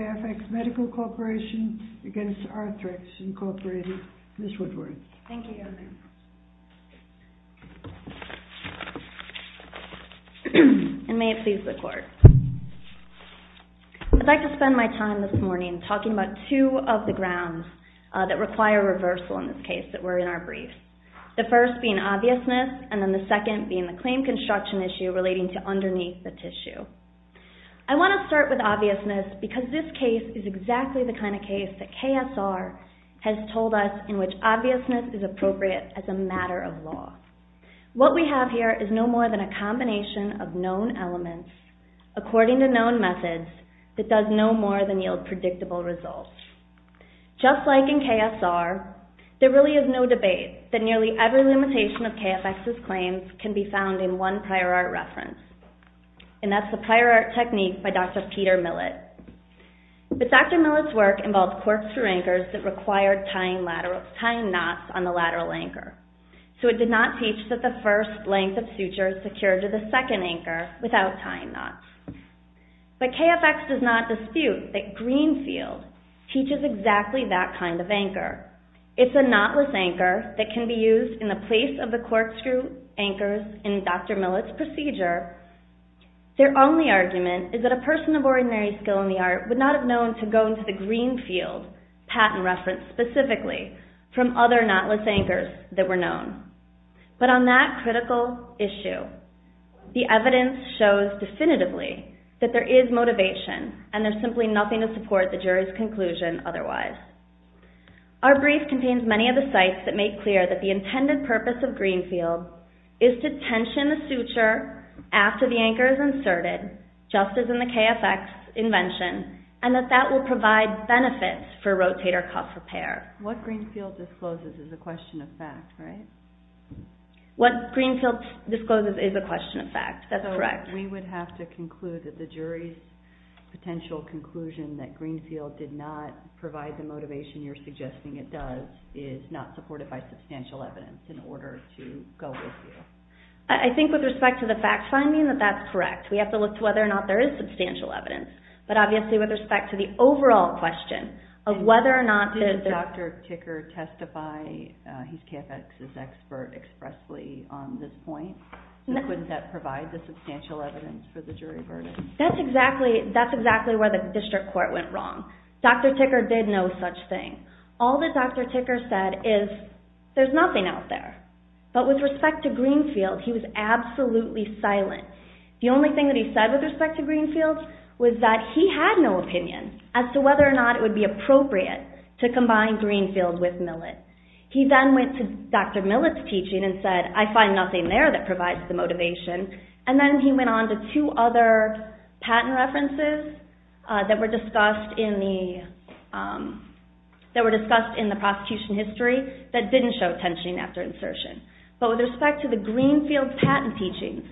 Arthrex Medical Corporation v. Arthrex Incorporated Arthrex Corporation v. Arthrex Corporation v. Arthrex Corporation I'd like to spend my time this morning talking about two of the grounds that require reversal in this case that were in our brief. The first being obviousness and then the second being the claim construction issue relating to underneath the tissue. I want to start with obviousness because this case is exactly the kind of case that KSR has told us in which obviousness is appropriate as a matter of law. What we have here is no more than a combination of known elements according to known methods that does no more than yield predictable results. Just like in KSR, there really is no debate that nearly every limitation of KFx's claims can be found in one prior art reference and that's the prior art technique by Dr. Peter Millett. But Dr. Millett's work involved corkscrew anchors that required tying knots on the lateral anchor. So it did not teach that the first length of suture is secured to the second anchor without tying knots. But KFx does not dispute that Greenfield teaches exactly that kind of anchor. It's a knotless anchor that can be used in the place of the anchors in Dr. Millett's procedure. Their only argument is that a person of ordinary skill in the art would not have known to go into the Greenfield patent reference specifically from other knotless anchors that were known. But on that critical issue, the evidence shows definitively that there is motivation and there's simply nothing to support the jury's conclusion otherwise. Our brief contains many of the sites that make clear that the intended purpose of Greenfield is to tension the suture after the anchor is inserted, just as in the KFx's invention, and that that will provide benefits for rotator cuff repair. What Greenfield discloses is a question of fact, right? What Greenfield discloses is a question of fact. That's correct. So we would have to conclude that the jury's potential conclusion that Greenfield did not provide the motivation you're suggesting it does is not supported by substantial evidence in order to go with you. I think with respect to the fact finding that that's correct. We have to look to whether or not there is substantial evidence. But obviously with respect to the overall question of whether or not the... Did Dr. Ticker testify, he's KFx's expert expressly on this point, that couldn't that provide the substantial evidence for the jury verdict? That's exactly where the district court went wrong. Dr. Ticker did no such thing. All that Dr. Ticker said is, there's nothing out there. But with respect to Greenfield, he was absolutely silent. The only thing that he said with respect to Greenfield was that he had no opinion as to whether or not it would be appropriate to combine Greenfield with Millett. He then went to Dr. Millett's teaching and said, I find nothing there that provides the motivation. And then he went on to two other patent references that were discussed in the prosecution history that didn't show tensioning after insertion. But with respect to the Greenfield patent teachings,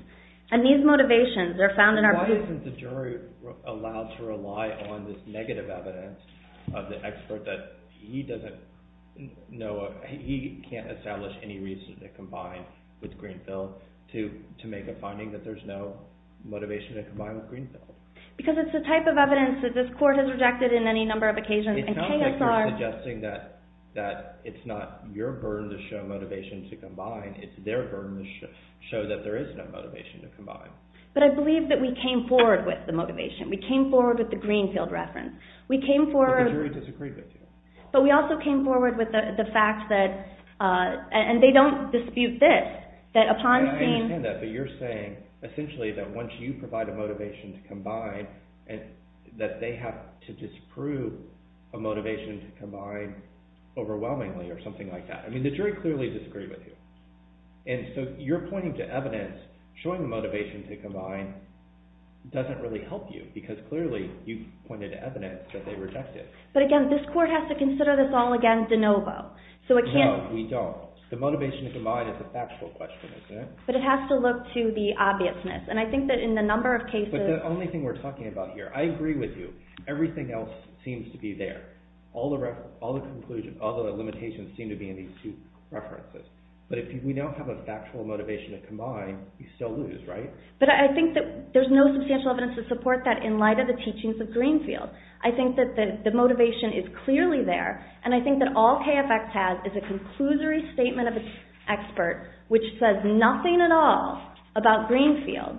and these motivations, they're found in our... Why isn't the jury allowed to rely on this negative evidence of the expert that he doesn't know, he can't establish any reason to combine with Greenfield to make a finding that there's no motivation to combine with Greenfield? Because it's the type of evidence that this court has rejected in any number of occasions and KSR... That it's not your burden to show motivation to combine, it's their burden to show that there is no motivation to combine. But I believe that we came forward with the motivation. We came forward with the Greenfield reference. We came forward... But the jury disagreed with you. But we also came forward with the fact that... And they don't dispute this, that upon seeing... I understand that, but you're saying, essentially, that once you provide a motivation to combine, that they have to disprove a motivation to combine overwhelmingly, or something like that. I mean, the jury clearly disagreed with you. And so you're pointing to evidence showing motivation to combine doesn't really help you, because clearly you pointed to evidence that they rejected. But again, this court has to consider this all again de novo. So it can't... No, we don't. The motivation to combine is a factual question, isn't it? But it has to look to the obviousness. And I think that in the number of cases... That's the only thing we're talking about here. I agree with you. Everything else seems to be there. All the conclusions, all the limitations seem to be in these two references. But if we don't have a factual motivation to combine, we still lose, right? But I think that there's no substantial evidence to support that in light of the teachings of Greenfield. I think that the motivation is clearly there. And I think that all KFX has is a conclusory statement of its expert, which says nothing at all about Greenfield.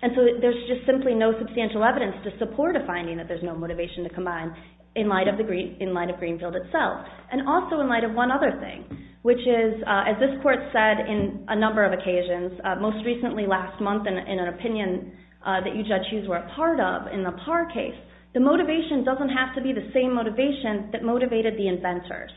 And so there's just simply no substantial evidence to support a finding that there's no motivation to combine in light of Greenfield itself. And also in light of one other thing, which is, as this court said in a number of occasions, most recently last month in an opinion that you, Judge Hughes, were a part of in the Parr case, the motivation doesn't have to be the same motivation that motivated the inventors.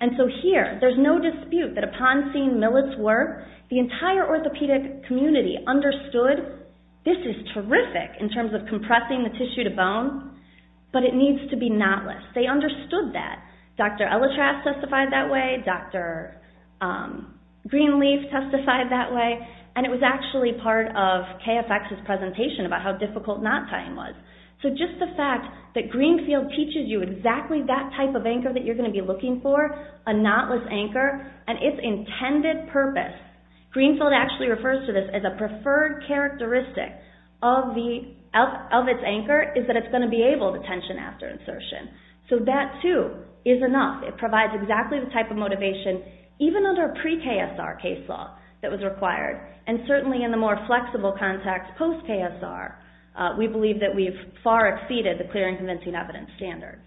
And so here, there's no dispute that upon seeing Millett's work, the entire orthopedic community understood this is terrific in terms of compressing the tissue to bone, but it needs to be knotless. They understood that. Dr. Ellitrass testified that way. Dr. Greenleaf testified that way. And it was actually part of KFX's presentation about how difficult knot tying was. So just the fact that Greenfield teaches you exactly that type of anchor that you're going to be looking for, a knotless anchor, and its intended purpose, Greenfield actually refers to this as a preferred characteristic of its anchor is that it's going to be able to tension after insertion. So that, too, is enough. It provides exactly the type of motivation, even under a pre-KSR case law that was required, and certainly in the more flexible context post-KSR, we believe that we've far exceeded the clear and convincing evidence standard.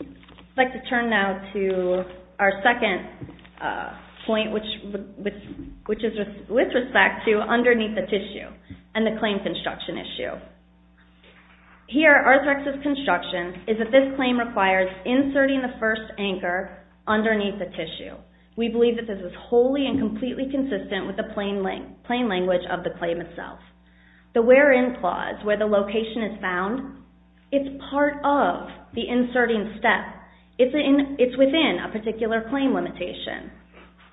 I'd like to turn now to our second point, which is with respect to underneath the tissue and the claim construction issue. Here, Arthrex's construction is that this claim requires inserting the first anchor underneath the tissue. We believe that this is wholly and completely consistent with the plain language of the claim itself. The where in clause, where the location is found, it's part of the inserting step. It's within a particular claim limitation.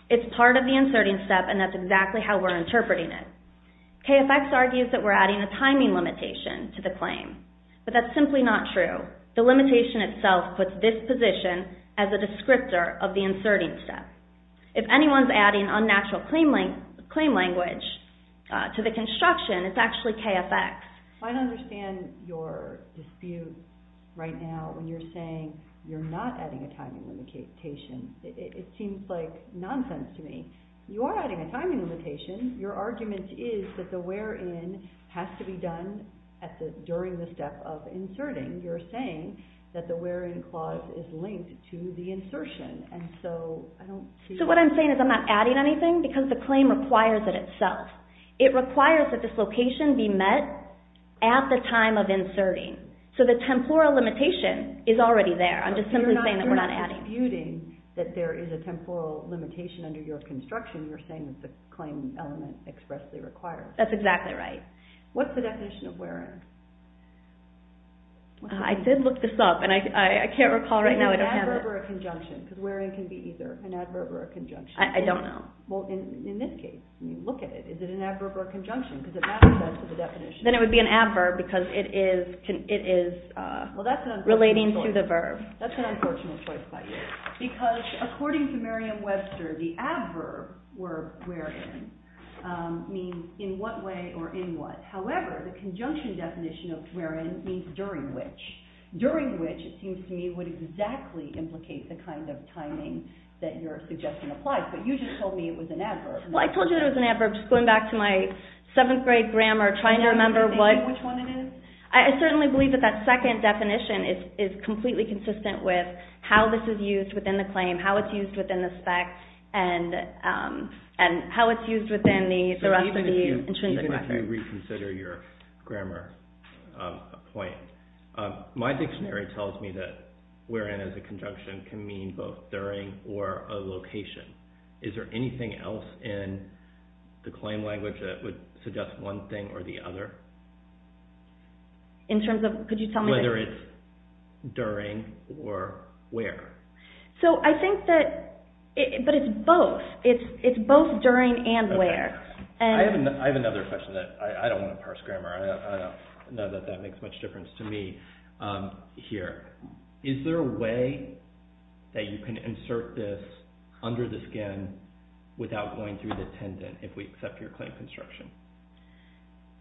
It's part of the inserting step, and that's exactly how we're interpreting it. KFX argues that we're adding a timing limitation to the claim, but that's simply not true. The limitation itself puts this position as a descriptor of the inserting step. If anyone's adding unnatural claim language to the construction, it's actually KFX. I don't understand your dispute right now when you're saying you're not adding a timing limitation. It seems like nonsense to me. You are adding a timing limitation. Your argument is that the where in has to be done during the step of inserting. You're saying that the where in clause is linked to the insertion, and so I don't see... What I'm saying is I'm not adding anything because the claim requires it itself. It requires that this location be met at the time of inserting, so the temporal limitation is already there. I'm just simply saying that we're not adding. You're not disputing that there is a temporal limitation under your construction. You're saying that the claim element expressly requires it. That's exactly right. What's the definition of where in? I did look this up, and I can't recall right now. Is it an adverb or a conjunction? Because where in can be either an adverb or a conjunction. I don't know. Well, in this case, look at it. Is it an adverb or a conjunction? Because it matches up to the definition. Then it would be an adverb because it is relating to the verb. That's an unfortunate choice by you. Because according to Merriam-Webster, the adverb where in means in what way or in what. However, the conjunction definition of where in means during which. During which, it seems to me, would exactly implicate the kind of timing that your suggestion applies. But you just told me it was an adverb. Well, I told you it was an adverb. Just going back to my 7th grade grammar, trying to remember what... Do you remember which one it is? I certainly believe that that second definition is completely consistent with how this is used within the claim, how it's used within the spec, and how it's used within the rest of the intrinsic matter. Let me reconsider your grammar point. My dictionary tells me that where in as a conjunction can mean both during or a location. Is there anything else in the claim language that would suggest one thing or the other? In terms of, could you tell me... Whether it's during or where. So I think that, but it's both. It's both during and where. I have another question that I don't want to parse grammar. I know that that makes much difference to me here. Is there a way that you can insert this under the skin without going through the tendon if we accept your claim construction?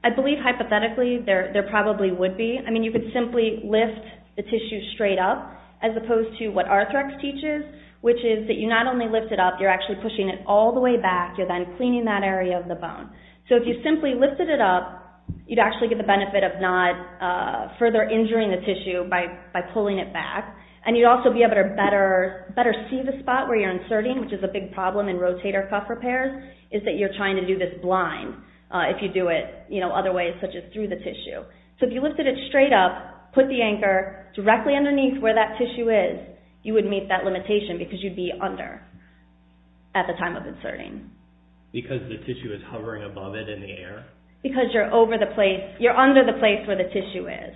I believe hypothetically there probably would be. I mean, you could simply lift the tissue straight up as opposed to what Arthrex teaches, which is that you not only lift it up, you're actually pushing it all the way back. You're then cleaning that area of the bone. So if you simply lifted it up, you'd actually get the benefit of not further injuring the tissue by pulling it back. And you'd also be able to better see the spot where you're inserting, which is a big problem in rotator cuff repairs, is that you're trying to do this blind if you do it other ways, such as through the tissue. So if you lifted it straight up, put the anchor directly underneath where that tissue is, you would meet that limitation because you'd be under at the time of inserting. Because the tissue is hovering above it in the air? Because you're under the place where the tissue is.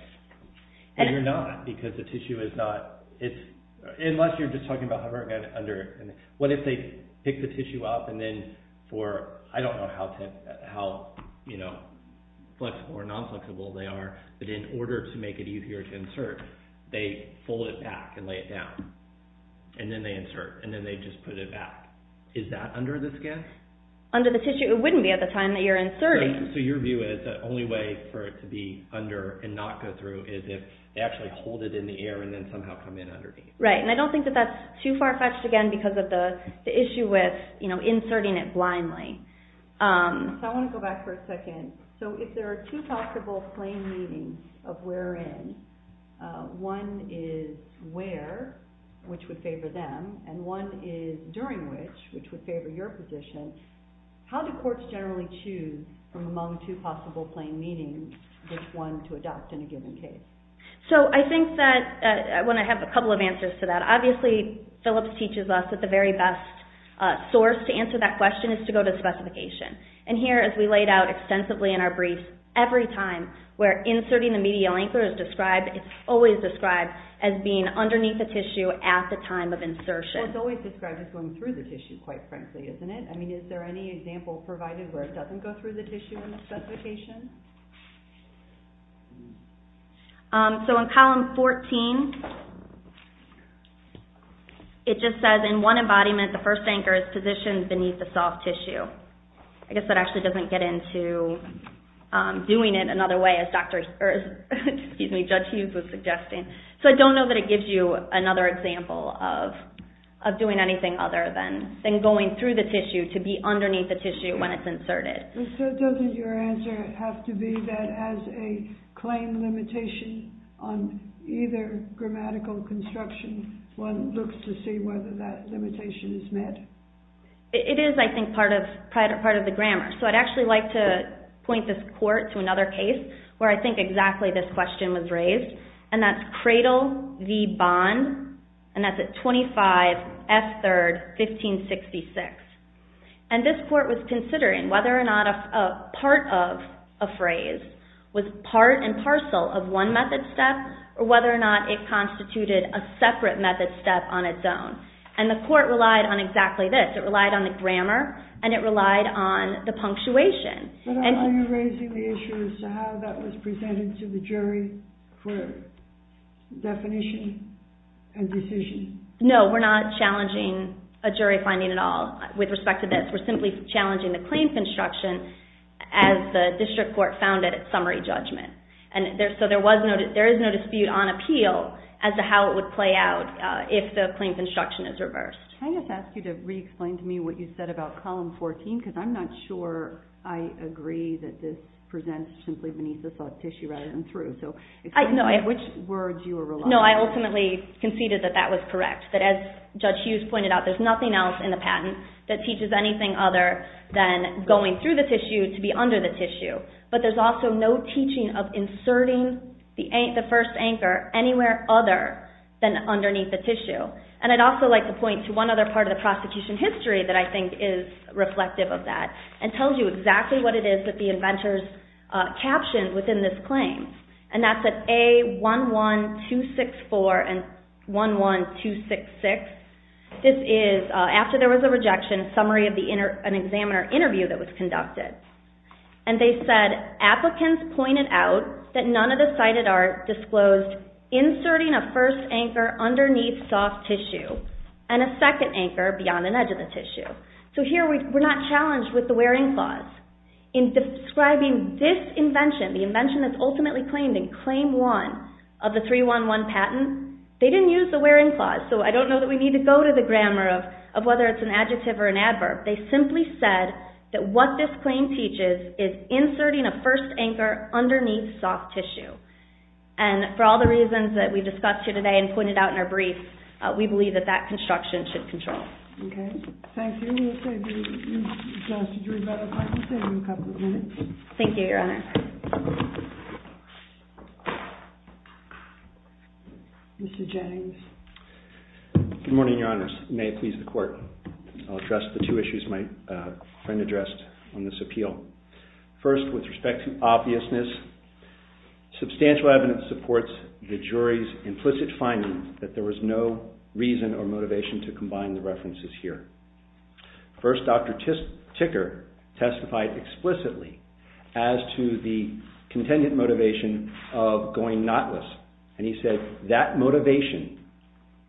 But you're not because the tissue is not – unless you're just talking about hovering under. What if they pick the tissue up and then for – I don't know how flexible or non-flexible they are, but in order to make it easier to insert, they fold it back and lay it down, and then they insert, and then they just put it back. Is that under the skin? Under the tissue? It wouldn't be at the time that you're inserting. So your view is the only way for it to be under and not go through is if they actually hold it in the air and then somehow come in underneath. Right, and I don't think that that's too far-fetched again because of the issue with inserting it blindly. I want to go back for a second. So if there are two possible plain meanings of wherein, one is where, which would favor them, and one is during which, which would favor your position, how do courts generally choose from among two possible plain meanings which one to adopt in a given case? So I think that – I want to have a couple of answers to that. Obviously, Phillips teaches us that the very best source to answer that question is to go to specification. And here, as we laid out extensively in our brief, every time where inserting the medial anchor is described, it's always described as being underneath the tissue at the time of insertion. Well, it's always described as going through the tissue, quite frankly, isn't it? I mean, is there any example provided where it doesn't go through the tissue in the specification? So in column 14, it just says, in one embodiment, the first anchor is positioned beneath the soft tissue. I guess that actually doesn't get into doing it another way, as Judge Hughes was suggesting. So I don't know that it gives you another example of doing anything other than going through the tissue, to be underneath the tissue when it's inserted. So doesn't your answer have to be that as a claim limitation on either grammatical construction, one looks to see whether that limitation is met? It is, I think, part of the grammar. So I'd actually like to point this court to another case where I think exactly this question was raised, and that's Cradle v. Bond, and that's at 25F3rd, 1566. And this court was considering whether or not a part of a phrase was part and parcel of one method step, or whether or not it constituted a separate method step on its own. And the court relied on exactly this. It relied on the grammar, and it relied on the punctuation. But are you raising the issue as to how that was presented to the jury for definition and decision? No, we're not challenging a jury finding at all with respect to this. We're simply challenging the claim construction as the district court found it at summary judgment. And so there is no dispute on appeal as to how it would play out if the claim construction is reversed. Can I just ask you to re-explain to me what you said about Column 14, because I'm not sure I agree that this presents simply beneath the soft tissue rather than through. So explain which words you were relying on. No, I ultimately conceded that that was correct, that as Judge Hughes pointed out, there's nothing else in the patent that teaches anything other than going through the tissue to be under the tissue. But there's also no teaching of inserting the first anchor anywhere other than underneath the tissue. And I'd also like to point to one other part of the prosecution history that I think is reflective of that and tells you exactly what it is that the inventors captioned within this claim. And that's at A11264 and 11266. This is after there was a rejection, a summary of an examiner interview that was conducted. And they said, applicants pointed out that none of the cited are disclosed inserting a first anchor underneath soft tissue and a second anchor beyond an edge of the tissue. So here we're not challenged with the wearing clause. In describing this invention, the invention that's ultimately claimed in Claim 1 of the 311 patent, they didn't use the wearing clause. So I don't know that we need to go to the grammar of whether it's an adjective or an adverb. They simply said that what this claim teaches is inserting a first anchor underneath soft tissue. And for all the reasons that we discussed here today and pointed out in our brief, we believe that that construction should control. Okay. Thank you. Mr. Drew, if I could save you a couple of minutes. Thank you, Your Honor. Mr. Jennings. Good morning, Your Honors. May it please the Court. I'll address the two issues my friend addressed on this appeal. First, with respect to obviousness, substantial evidence supports the jury's implicit finding that there was no reason or motivation to combine the references here. First, Dr. Ticker testified explicitly as to the contingent motivation of going knotless. And he said, that motivation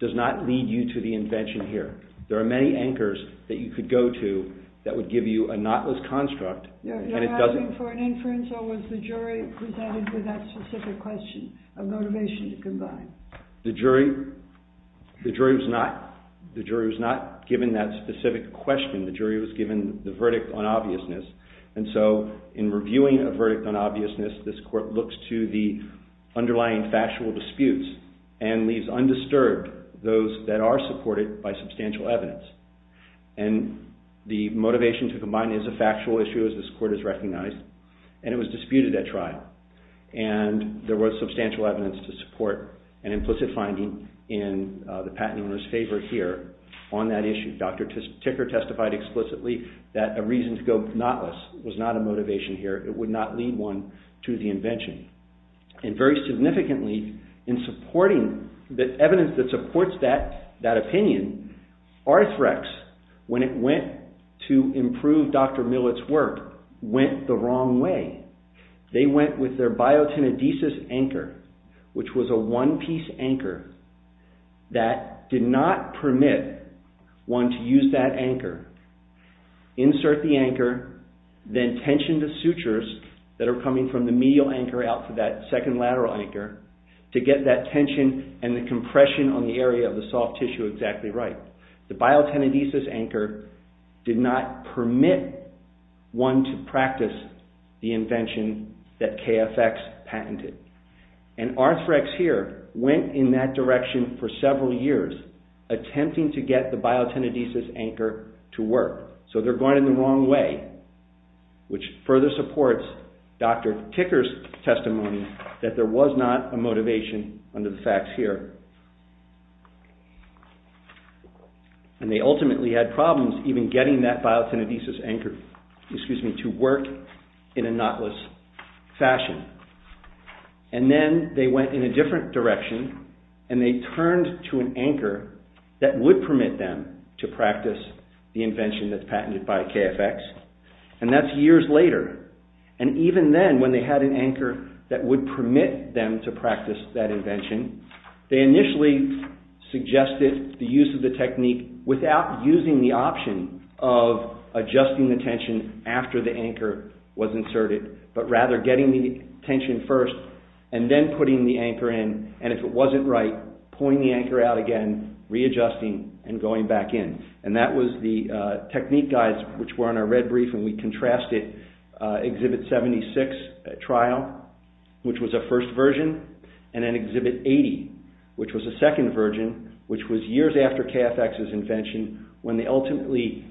does not lead you to the invention here. There are many anchors that you could go to that would give you a knotless construct and it doesn't. You're asking for an inference or was the jury presented with that specific question of motivation to combine? The jury was not given that specific question. The jury was given the verdict on obviousness. And so in reviewing a verdict on obviousness, this Court looks to the underlying factual disputes and leaves undisturbed those that are supported by substantial evidence. And the motivation to combine is a factual issue as this Court has recognized. And it was disputed at trial. And there was substantial evidence to support an implicit finding in the patent owner's favor here on that issue. Dr. Ticker testified explicitly that a reason to go knotless was not a motivation here. It would not lead one to the invention. And very significantly, in supporting the evidence that supports that opinion, Arthrex, when it went to improve Dr. Millett's work, went the wrong way. They went with their biotinodesis anchor, which was a one-piece anchor that did not permit one to use that anchor, insert the anchor, then tension the sutures that are coming from the medial anchor out to that second lateral anchor to get that tension and the compression on the area of the soft tissue exactly right. The biotinodesis anchor did not permit one to practice the invention that KFX patented. And Arthrex here went in that direction for several years, attempting to get the biotinodesis anchor to work. So they're going in the wrong way, which further supports Dr. Ticker's testimony that there was not a motivation under the facts here. And they ultimately had problems even getting that biotinodesis anchor to work in a knotless fashion. And then they went in a different direction, and they turned to an anchor that would permit them to practice the invention that's patented by KFX. And that's years later. And even then, when they had an anchor that would permit them to practice that invention, they initially suggested the use of the technique without using the option of adjusting the tension after the anchor was inserted, but rather getting the tension first and then putting the anchor in. And if it wasn't right, pulling the anchor out again, readjusting, and going back in. And that was the technique guides, which were on our red brief, and we contrasted Exhibit 76 trial, which was a first version, and then Exhibit 80, which was a second version, which was years after KFX's invention, when they ultimately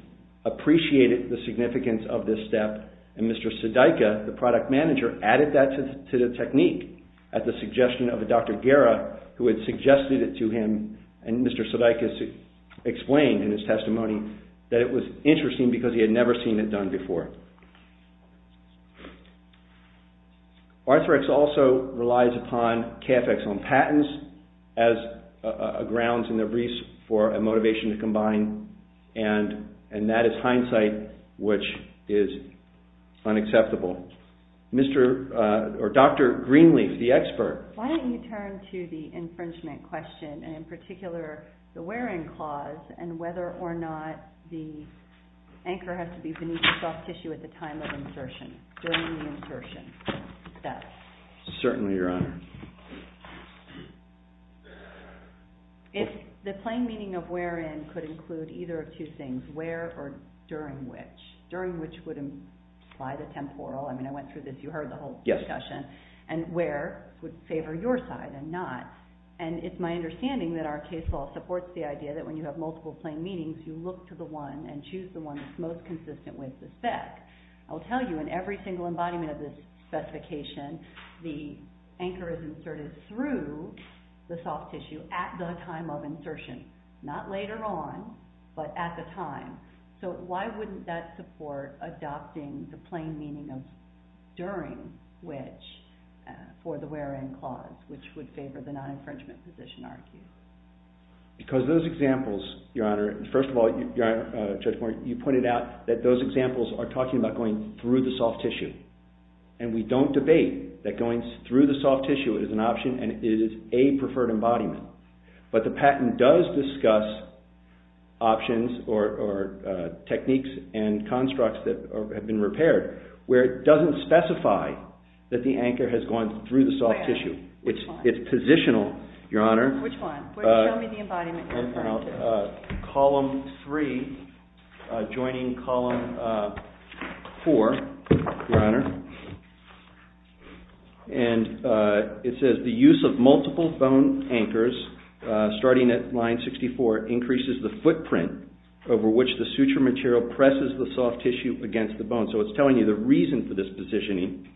appreciated the significance of this step. And Mr. Sudeikis, the product manager, added that to the technique at the suggestion of Dr. Guerra, who had suggested it to him. And Mr. Sudeikis explained in his testimony that it was interesting because he had never seen it done before. Arthrex also relies upon KFX on patents as grounds in their briefs for a motivation to combine. And that is hindsight, which is unacceptable. Dr. Greenleaf, the expert. Why don't you turn to the infringement question, and in particular the wear-in clause, and whether or not the anchor has to be beneath the soft tissue at the time of insertion, during the insertion. Certainly, Your Honor. If the plain meaning of wear-in could include either of two things, wear or during which. During which would imply the temporal, I mean, I went through this, you heard the whole discussion, and wear would favor your side and not. And it's my understanding that our case law supports the idea that when you have multiple plain meanings, you look to the one and choose the one that's most consistent with the spec. I will tell you, in every single embodiment of this specification, the anchor is inserted through the soft tissue at the time of insertion. Not later on, but at the time. So why wouldn't that support adopting the plain meaning of during which for the wear-in clause, which would favor the non-infringement position, argue? Because those examples, Your Honor, first of all, Judge Moore, you pointed out that those examples are talking about going through the soft tissue. And we don't debate that going through the soft tissue is an option and it is a preferred embodiment. But the patent does discuss options or techniques and constructs that have been repaired where it doesn't specify that the anchor has gone through the soft tissue. It's positional, Your Honor. Which one? Show me the embodiment. Column 3, joining column 4, Your Honor. And it says, the use of multiple bone anchors, starting at line 64, increases the footprint over which the suture material presses the soft tissue against the bone. So it's telling you the reason for this positioning.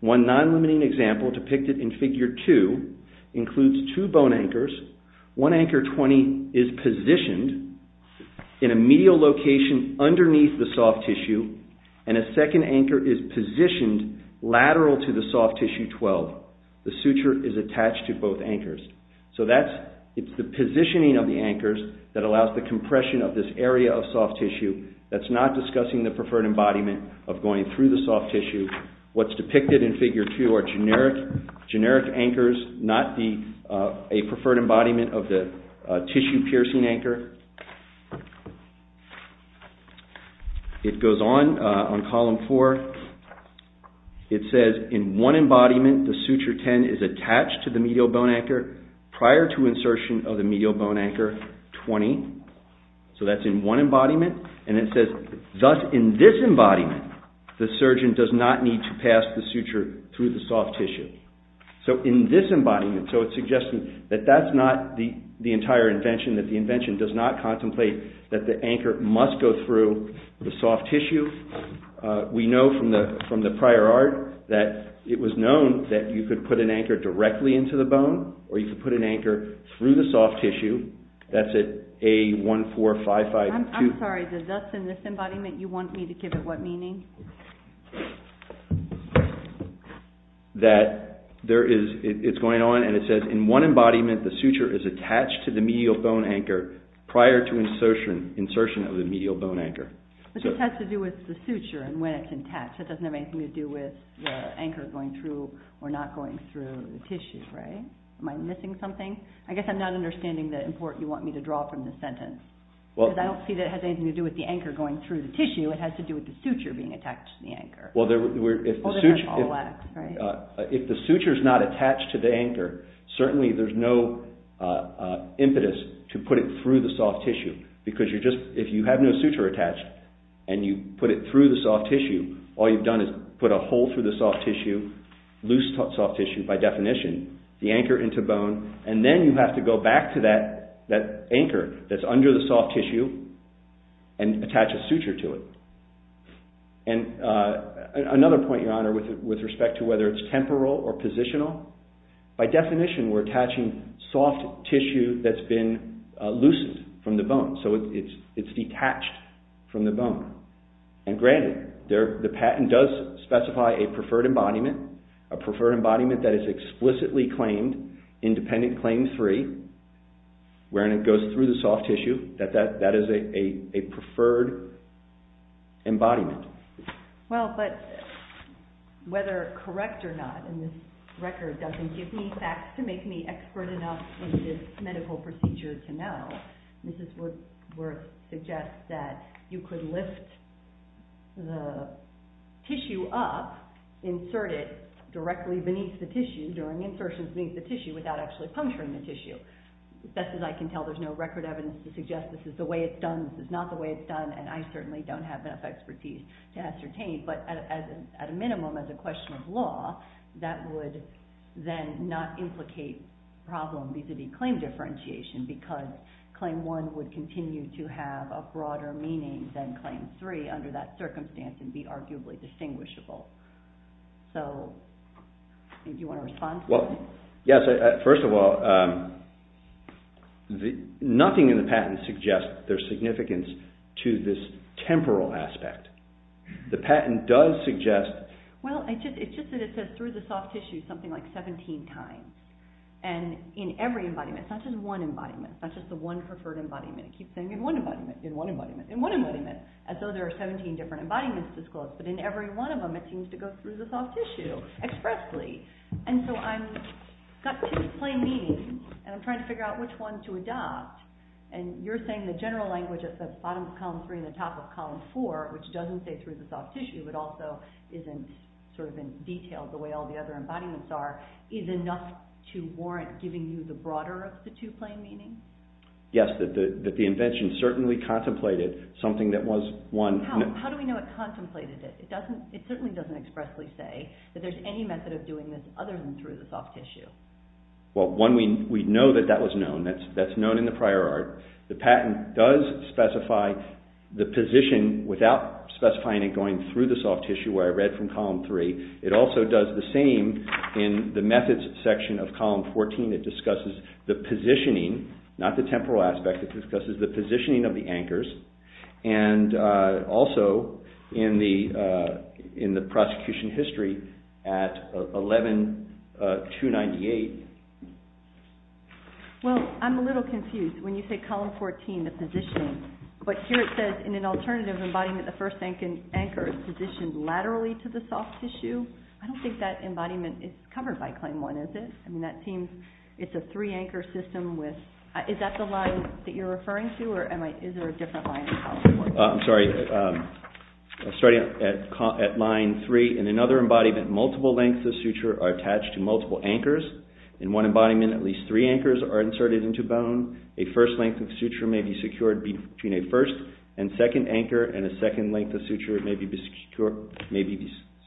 One non-limiting example, depicted in figure 2, includes two bone anchors, one anchor 20 is positioned in a medial location underneath the soft tissue and a second anchor is positioned lateral to the soft tissue 12. The suture is attached to both anchors. So it's the positioning of the anchors that allows the compression of this area of soft tissue. That's not discussing the preferred embodiment of going through the soft tissue. What's depicted in figure 2 are generic anchors, not a preferred embodiment of the tissue piercing anchor. It goes on, on column 4. It says, in one embodiment, the suture 10 is attached to the medial bone anchor prior to insertion of the medial bone anchor 20. So that's in one embodiment. And it says, thus in this embodiment, the surgeon does not need to pass the suture through the soft tissue. So in this embodiment, so it's suggesting that that's not the entire invention, that the invention does not contemplate that the anchor must go through the soft tissue. We know from the prior art that it was known that you could put an anchor directly into the bone or you could put an anchor through the soft tissue. That's at A14552. I'm sorry, does thus in this embodiment, you want me to give it what meaning? That it's going on and it says, in one embodiment, the suture is attached to the medial bone anchor prior to insertion of the medial bone anchor. But this has to do with the suture and when it's attached. It doesn't have anything to do with the anchor going through or not going through the tissue, right? Am I missing something? I guess I'm not understanding the import you want me to draw from this sentence. Because I don't see that it has anything to do with the anchor going through the tissue. It has to do with the suture being attached to the anchor. Well, if the suture is not attached to the anchor, certainly there's no impetus to put it through the soft tissue. Because if you have no suture attached and you put it through the soft tissue, all you've done is put a hole through the soft tissue, loose soft tissue by definition, the anchor into bone, and then you have to go back to that anchor that's under the soft tissue and attach a suture to it. And another point, Your Honour, with respect to whether it's temporal or positional, by definition we're attaching soft tissue that's been loosened from the bone, so it's detached from the bone. And granted, the patent does specify a preferred embodiment, a preferred embodiment that is explicitly claimed, independent, claim-free, wherein it goes through the soft tissue, that that is a preferred embodiment. Well, but whether correct or not in this record doesn't give me facts to make me expert enough in this medical procedure to know, Mrs. Woodworth suggests that you could lift the tissue up, insert it directly beneath the tissue during insertions beneath the tissue without actually puncturing the tissue. As best as I can tell, there's no record evidence to suggest this is the way it's done, this is not the way it's done, and I certainly don't have enough expertise to ascertain. But at a minimum, as a question of law, that would then not implicate problem vis-à-vis claim differentiation because Claim 1 would continue to have a broader meaning than Claim 3 under that circumstance and be arguably distinguishable. So, do you want to respond to that? Well, yes, first of all, nothing in the patent suggests their significance to this temporal aspect. The patent does suggest... Well, it's just that it says through the soft tissue something like 17 times. And in every embodiment, not just one embodiment, not just the one preferred embodiment, it keeps saying in one embodiment, in one embodiment, in one embodiment, as though there are 17 different embodiments disclosed, but in every one of them it seems to go through the soft tissue expressly. And so I've got two plain meanings, and I'm trying to figure out which one to adopt, and you're saying the general language that says bottom of column 3 and the top of column 4, which doesn't say through the soft tissue but also is in sort of in detail the way all the other embodiments are, is enough to warrant giving you the broader of the two plain meanings? Yes, that the invention certainly contemplated something that was one... How do we know it contemplated it? It certainly doesn't expressly say that there's any method of doing this other than through the soft tissue. Well, one, we know that that was known. That's known in the prior art. The patent does specify the position without specifying it going through the soft tissue, where I read from column 3. It also does the same in the methods section of column 14. It discusses the positioning, not the temporal aspect, it discusses the positioning of the anchors, and also in the prosecution history at 11-298. Well, I'm a little confused when you say column 14, the positioning, but here it says in an alternative embodiment the first anchor is positioned laterally to the soft tissue. I don't think that embodiment is covered by claim 1, is it? I mean, that seems it's a three-anchor system with... Is that the line that you're referring to, or is there a different line in column 14? I'm sorry. Starting at line 3, in another embodiment, multiple lengths of suture are attached to multiple anchors. In one embodiment, at least three anchors are inserted into bone. A first length of suture may be secured between a first and second anchor, and a second length of suture may be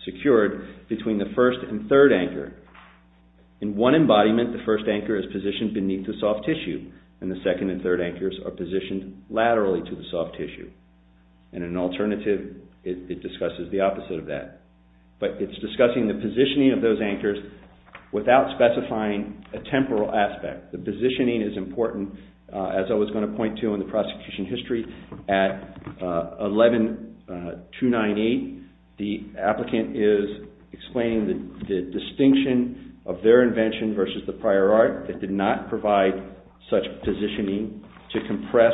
secured between the first and third anchor. In one embodiment, the first anchor is positioned beneath the soft tissue, and the second and third anchors are positioned laterally to the soft tissue. In an alternative, it discusses the opposite of that, but it's discussing the positioning of those anchors without specifying a temporal aspect. The positioning is important, as I was going to point to in the prosecution history. At 11298, the applicant is explaining the distinction of their invention versus the prior art. It did not provide such positioning to compress...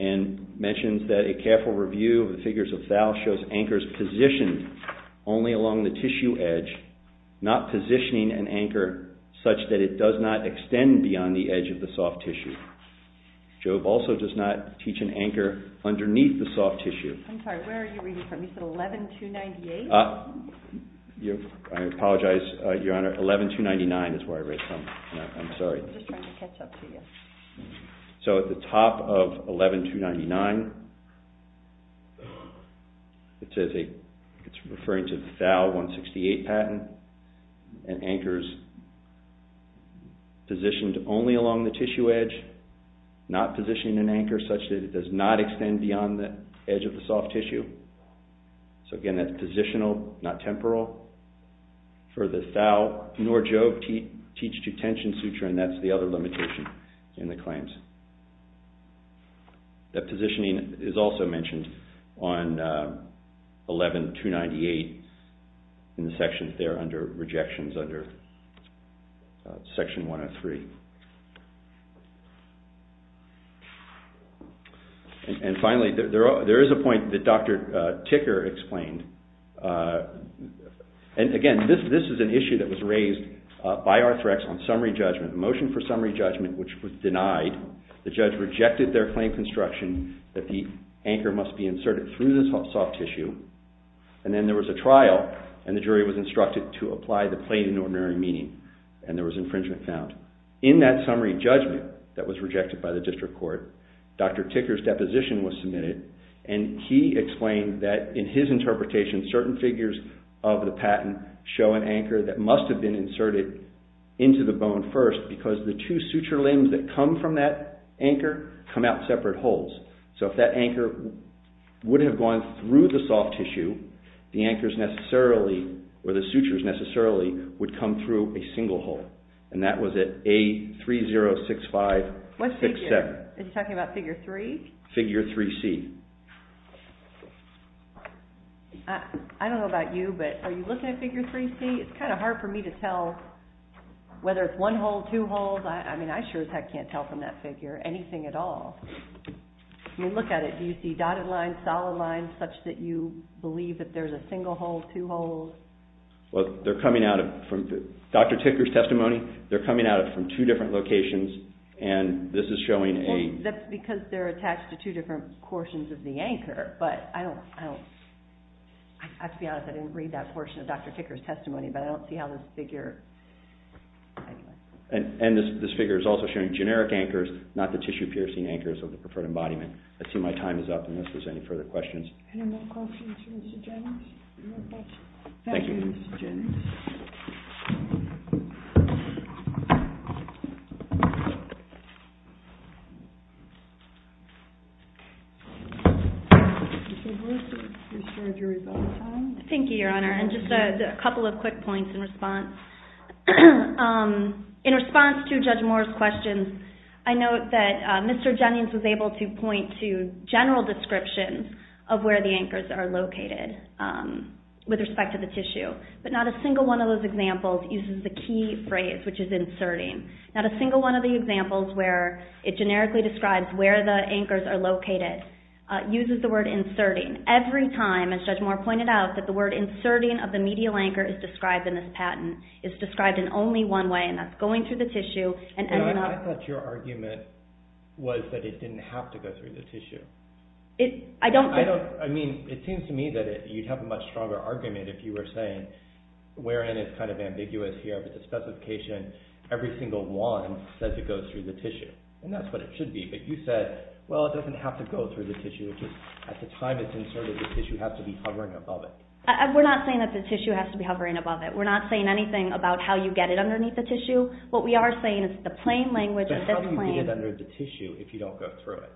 and mentions that a careful review of the figures of Thal shows anchors positioned only along the tissue edge, not positioning an anchor such that it does not extend beyond the edge of the soft tissue. Job also does not teach an anchor underneath the soft tissue. I'm sorry, where are you reading from? You said 11298? I apologize, Your Honor. 11299 is where I read from. I'm sorry. I'm just trying to catch up to you. So at the top of 11299, it's referring to the Thal 168 patent, and anchors positioned only along the tissue edge, not positioning an anchor such that it does not extend beyond the edge of the soft tissue. So again, that's positional, not temporal. For the Thal, nor Job teach detention suture, and that's the other limitation in the claims. That positioning is also mentioned on 11298 in the sections there under rejections under section 103. And finally, there is a point that Dr. Ticker explained. And again, this is an issue that was raised by Arthrex on summary judgment, a motion for summary judgment which was denied. The judge rejected their claim construction that the anchor must be inserted through the soft tissue, and then there was a trial, and the jury was instructed to apply the plain and ordinary meaning, and there was infringement found. In that summary judgment that was rejected by the district court, Dr. Ticker's deposition was submitted, and he explained that in his interpretation, certain figures of the patent show an anchor that must have been inserted into the bone first, because the two suture limbs that come from that anchor come out separate holes. So if that anchor would have gone through the soft tissue, the anchors necessarily, or the sutures necessarily, would come through a single hole. And that was at A306567. What figure? Are you talking about figure 3? Figure 3C. I don't know about you, but are you looking at figure 3C? It's kind of hard for me to tell whether it's one hole, two holes. I mean, I sure as heck can't tell from that figure anything at all. I mean, look at it. Do you see dotted lines, solid lines, such that you believe that there's a single hole, two holes? Well, they're coming out of Dr. Ticker's testimony. They're coming out of two different locations, and this is showing a... Well, that's because they're attached to two different portions of the anchor, but I don't... I have to be honest, I didn't read that portion of Dr. Ticker's testimony, but I don't see how this figure... And this figure is also showing generic anchors, not the tissue-piercing anchors of the preferred embodiment. I see my time is up, unless there's any further questions. Any more questions for Mr. Jennings? Thank you, Mrs. Jennings. Mr. Brewster, your story is about time. Thank you, Your Honor, and just a couple of quick points in response. In response to Judge Moore's questions, I note that Mr. Jennings was able to point to general descriptions of where the anchors are located with respect to the tissue, but not a single one of those examples uses the key phrase, which is inserting. Not a single one of the examples where it generically describes where the anchors are located uses the word inserting. Every time, as Judge Moore pointed out, that the word inserting of the medial anchor is described in this patent, is described in only one way, and that's going through the tissue and ending up... Your Honor, I thought your argument was that it didn't have to go through the tissue. I don't think... I mean, it seems to me that you'd have a much stronger argument if you were saying, wherein it's kind of ambiguous here, but the specification, every single one says it goes through the tissue, and that's what it should be. But you said, well, it doesn't have to go through the tissue. It just, at the time it's inserted, the tissue has to be hovering above it. We're not saying that the tissue has to be hovering above it. We're not saying anything about how you get it underneath the tissue. What we are saying is the plain language of this claim... But how do you get it under the tissue if you don't go through it?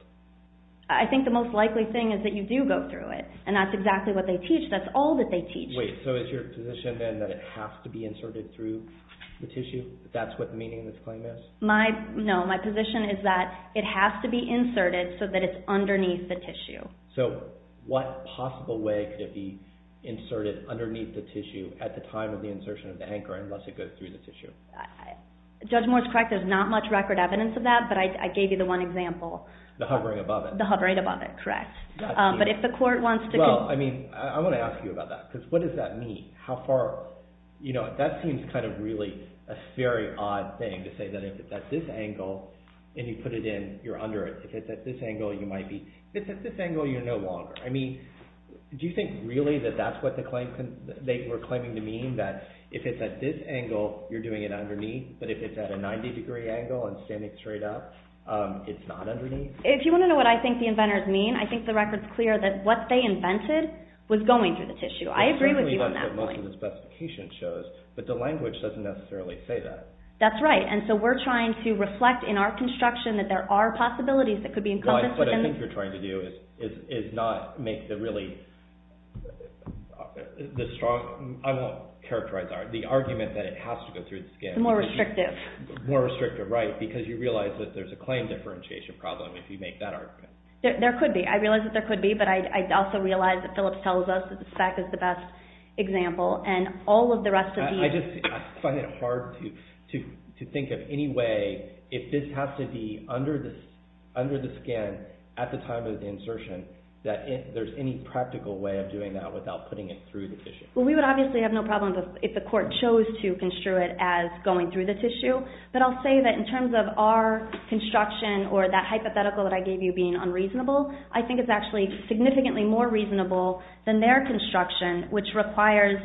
I think the most likely thing is that you do go through it, and that's exactly what they teach. That's all that they teach. Wait, so is your position then that it has to be inserted through the tissue? That's what the meaning of this claim is? My, no, my position is that it has to be inserted so that it's underneath the tissue. So, what possible way could it be inserted underneath the tissue at the time of the insertion of the anchor unless it goes through the tissue? Judge Moore's correct. There's not much record evidence of that, but I gave you the one example. The hovering above it. The hovering above it, correct. But if the court wants to... Well, I mean, I want to ask you about that because what does that mean? How far, you know, that seems kind of really a very odd thing to say that if it's at this angle and you put it in, you're under it. If it's at this angle, you might be. If it's at this angle, you're no longer. I mean, do you think really that that's what they were claiming to mean? That if it's at this angle, you're doing it underneath, but if it's at a 90-degree angle and standing straight up, it's not underneath? If you want to know what I think the inventors mean, I think the record's clear that what they invented was going through the tissue. I agree with you on that point. That's certainly what most of the specification shows, but the language doesn't necessarily say that. That's right, and so we're trying to reflect in our construction that there are possibilities that could be encompassed within... That's what I think you're trying to do is not make the really strong... I won't characterize the argument that it has to go through the skin. It's more restrictive. More restrictive, right, because you realize that there's a claim differentiation problem if you make that argument. There could be. I realize that there could be, but I also realize that Phillips tells us that the spec is the best example, and all of the rest of the... I just find it hard to think of any way, if this has to be under the skin at the time of the insertion, that there's any practical way of doing that without putting it through the tissue. Well, we would obviously have no problem if the court chose to construe it as going through the tissue, but I'll say that in terms of our construction or that hypothetical that I gave you being unreasonable, I think it's actually significantly more reasonable than their construction, which requires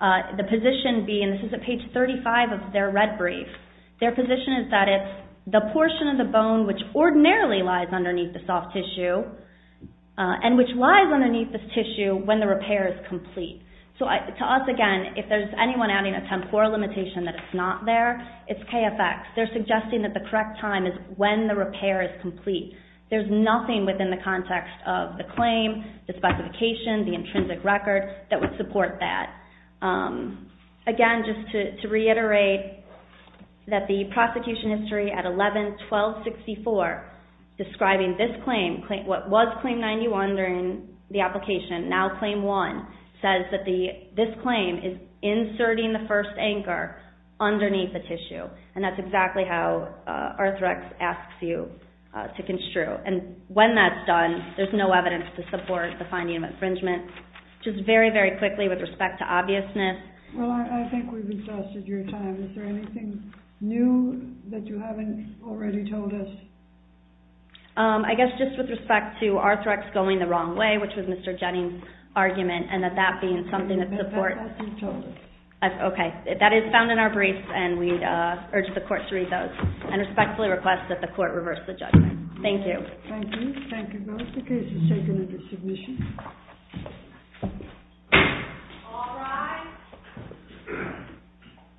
the position being... This is at page 35 of their red brief. Their position is that it's the portion of the bone which ordinarily lies underneath the soft tissue and which lies underneath this tissue when the repair is complete. So to us, again, if there's anyone adding a temporal limitation that it's not there, it's KFX. They're suggesting that the correct time is when the repair is complete. There's nothing within the context of the claim, the specification, the intrinsic record that would support that. Again, just to reiterate that the prosecution history at 11-1264 describing this claim, what was Claim 91 during the application, now Claim 1, says that this claim is inserting the first anchor underneath the tissue, and that's exactly how Arthrex asks you to construe. And when that's done, there's no evidence to support the finding of infringement. Just very, very quickly with respect to obviousness. Well, I think we've exhausted your time. Is there anything new that you haven't already told us? I guess just with respect to Arthrex going the wrong way, which was Mr. Jennings' argument, and that that being something that supports... That hasn't been told us. Okay. That is found in our briefs, and we urge the court to read those and respectfully request that the court reverse the judgment. Thank you. Thank you. Thank you both. The case is taken at this submission. All rise.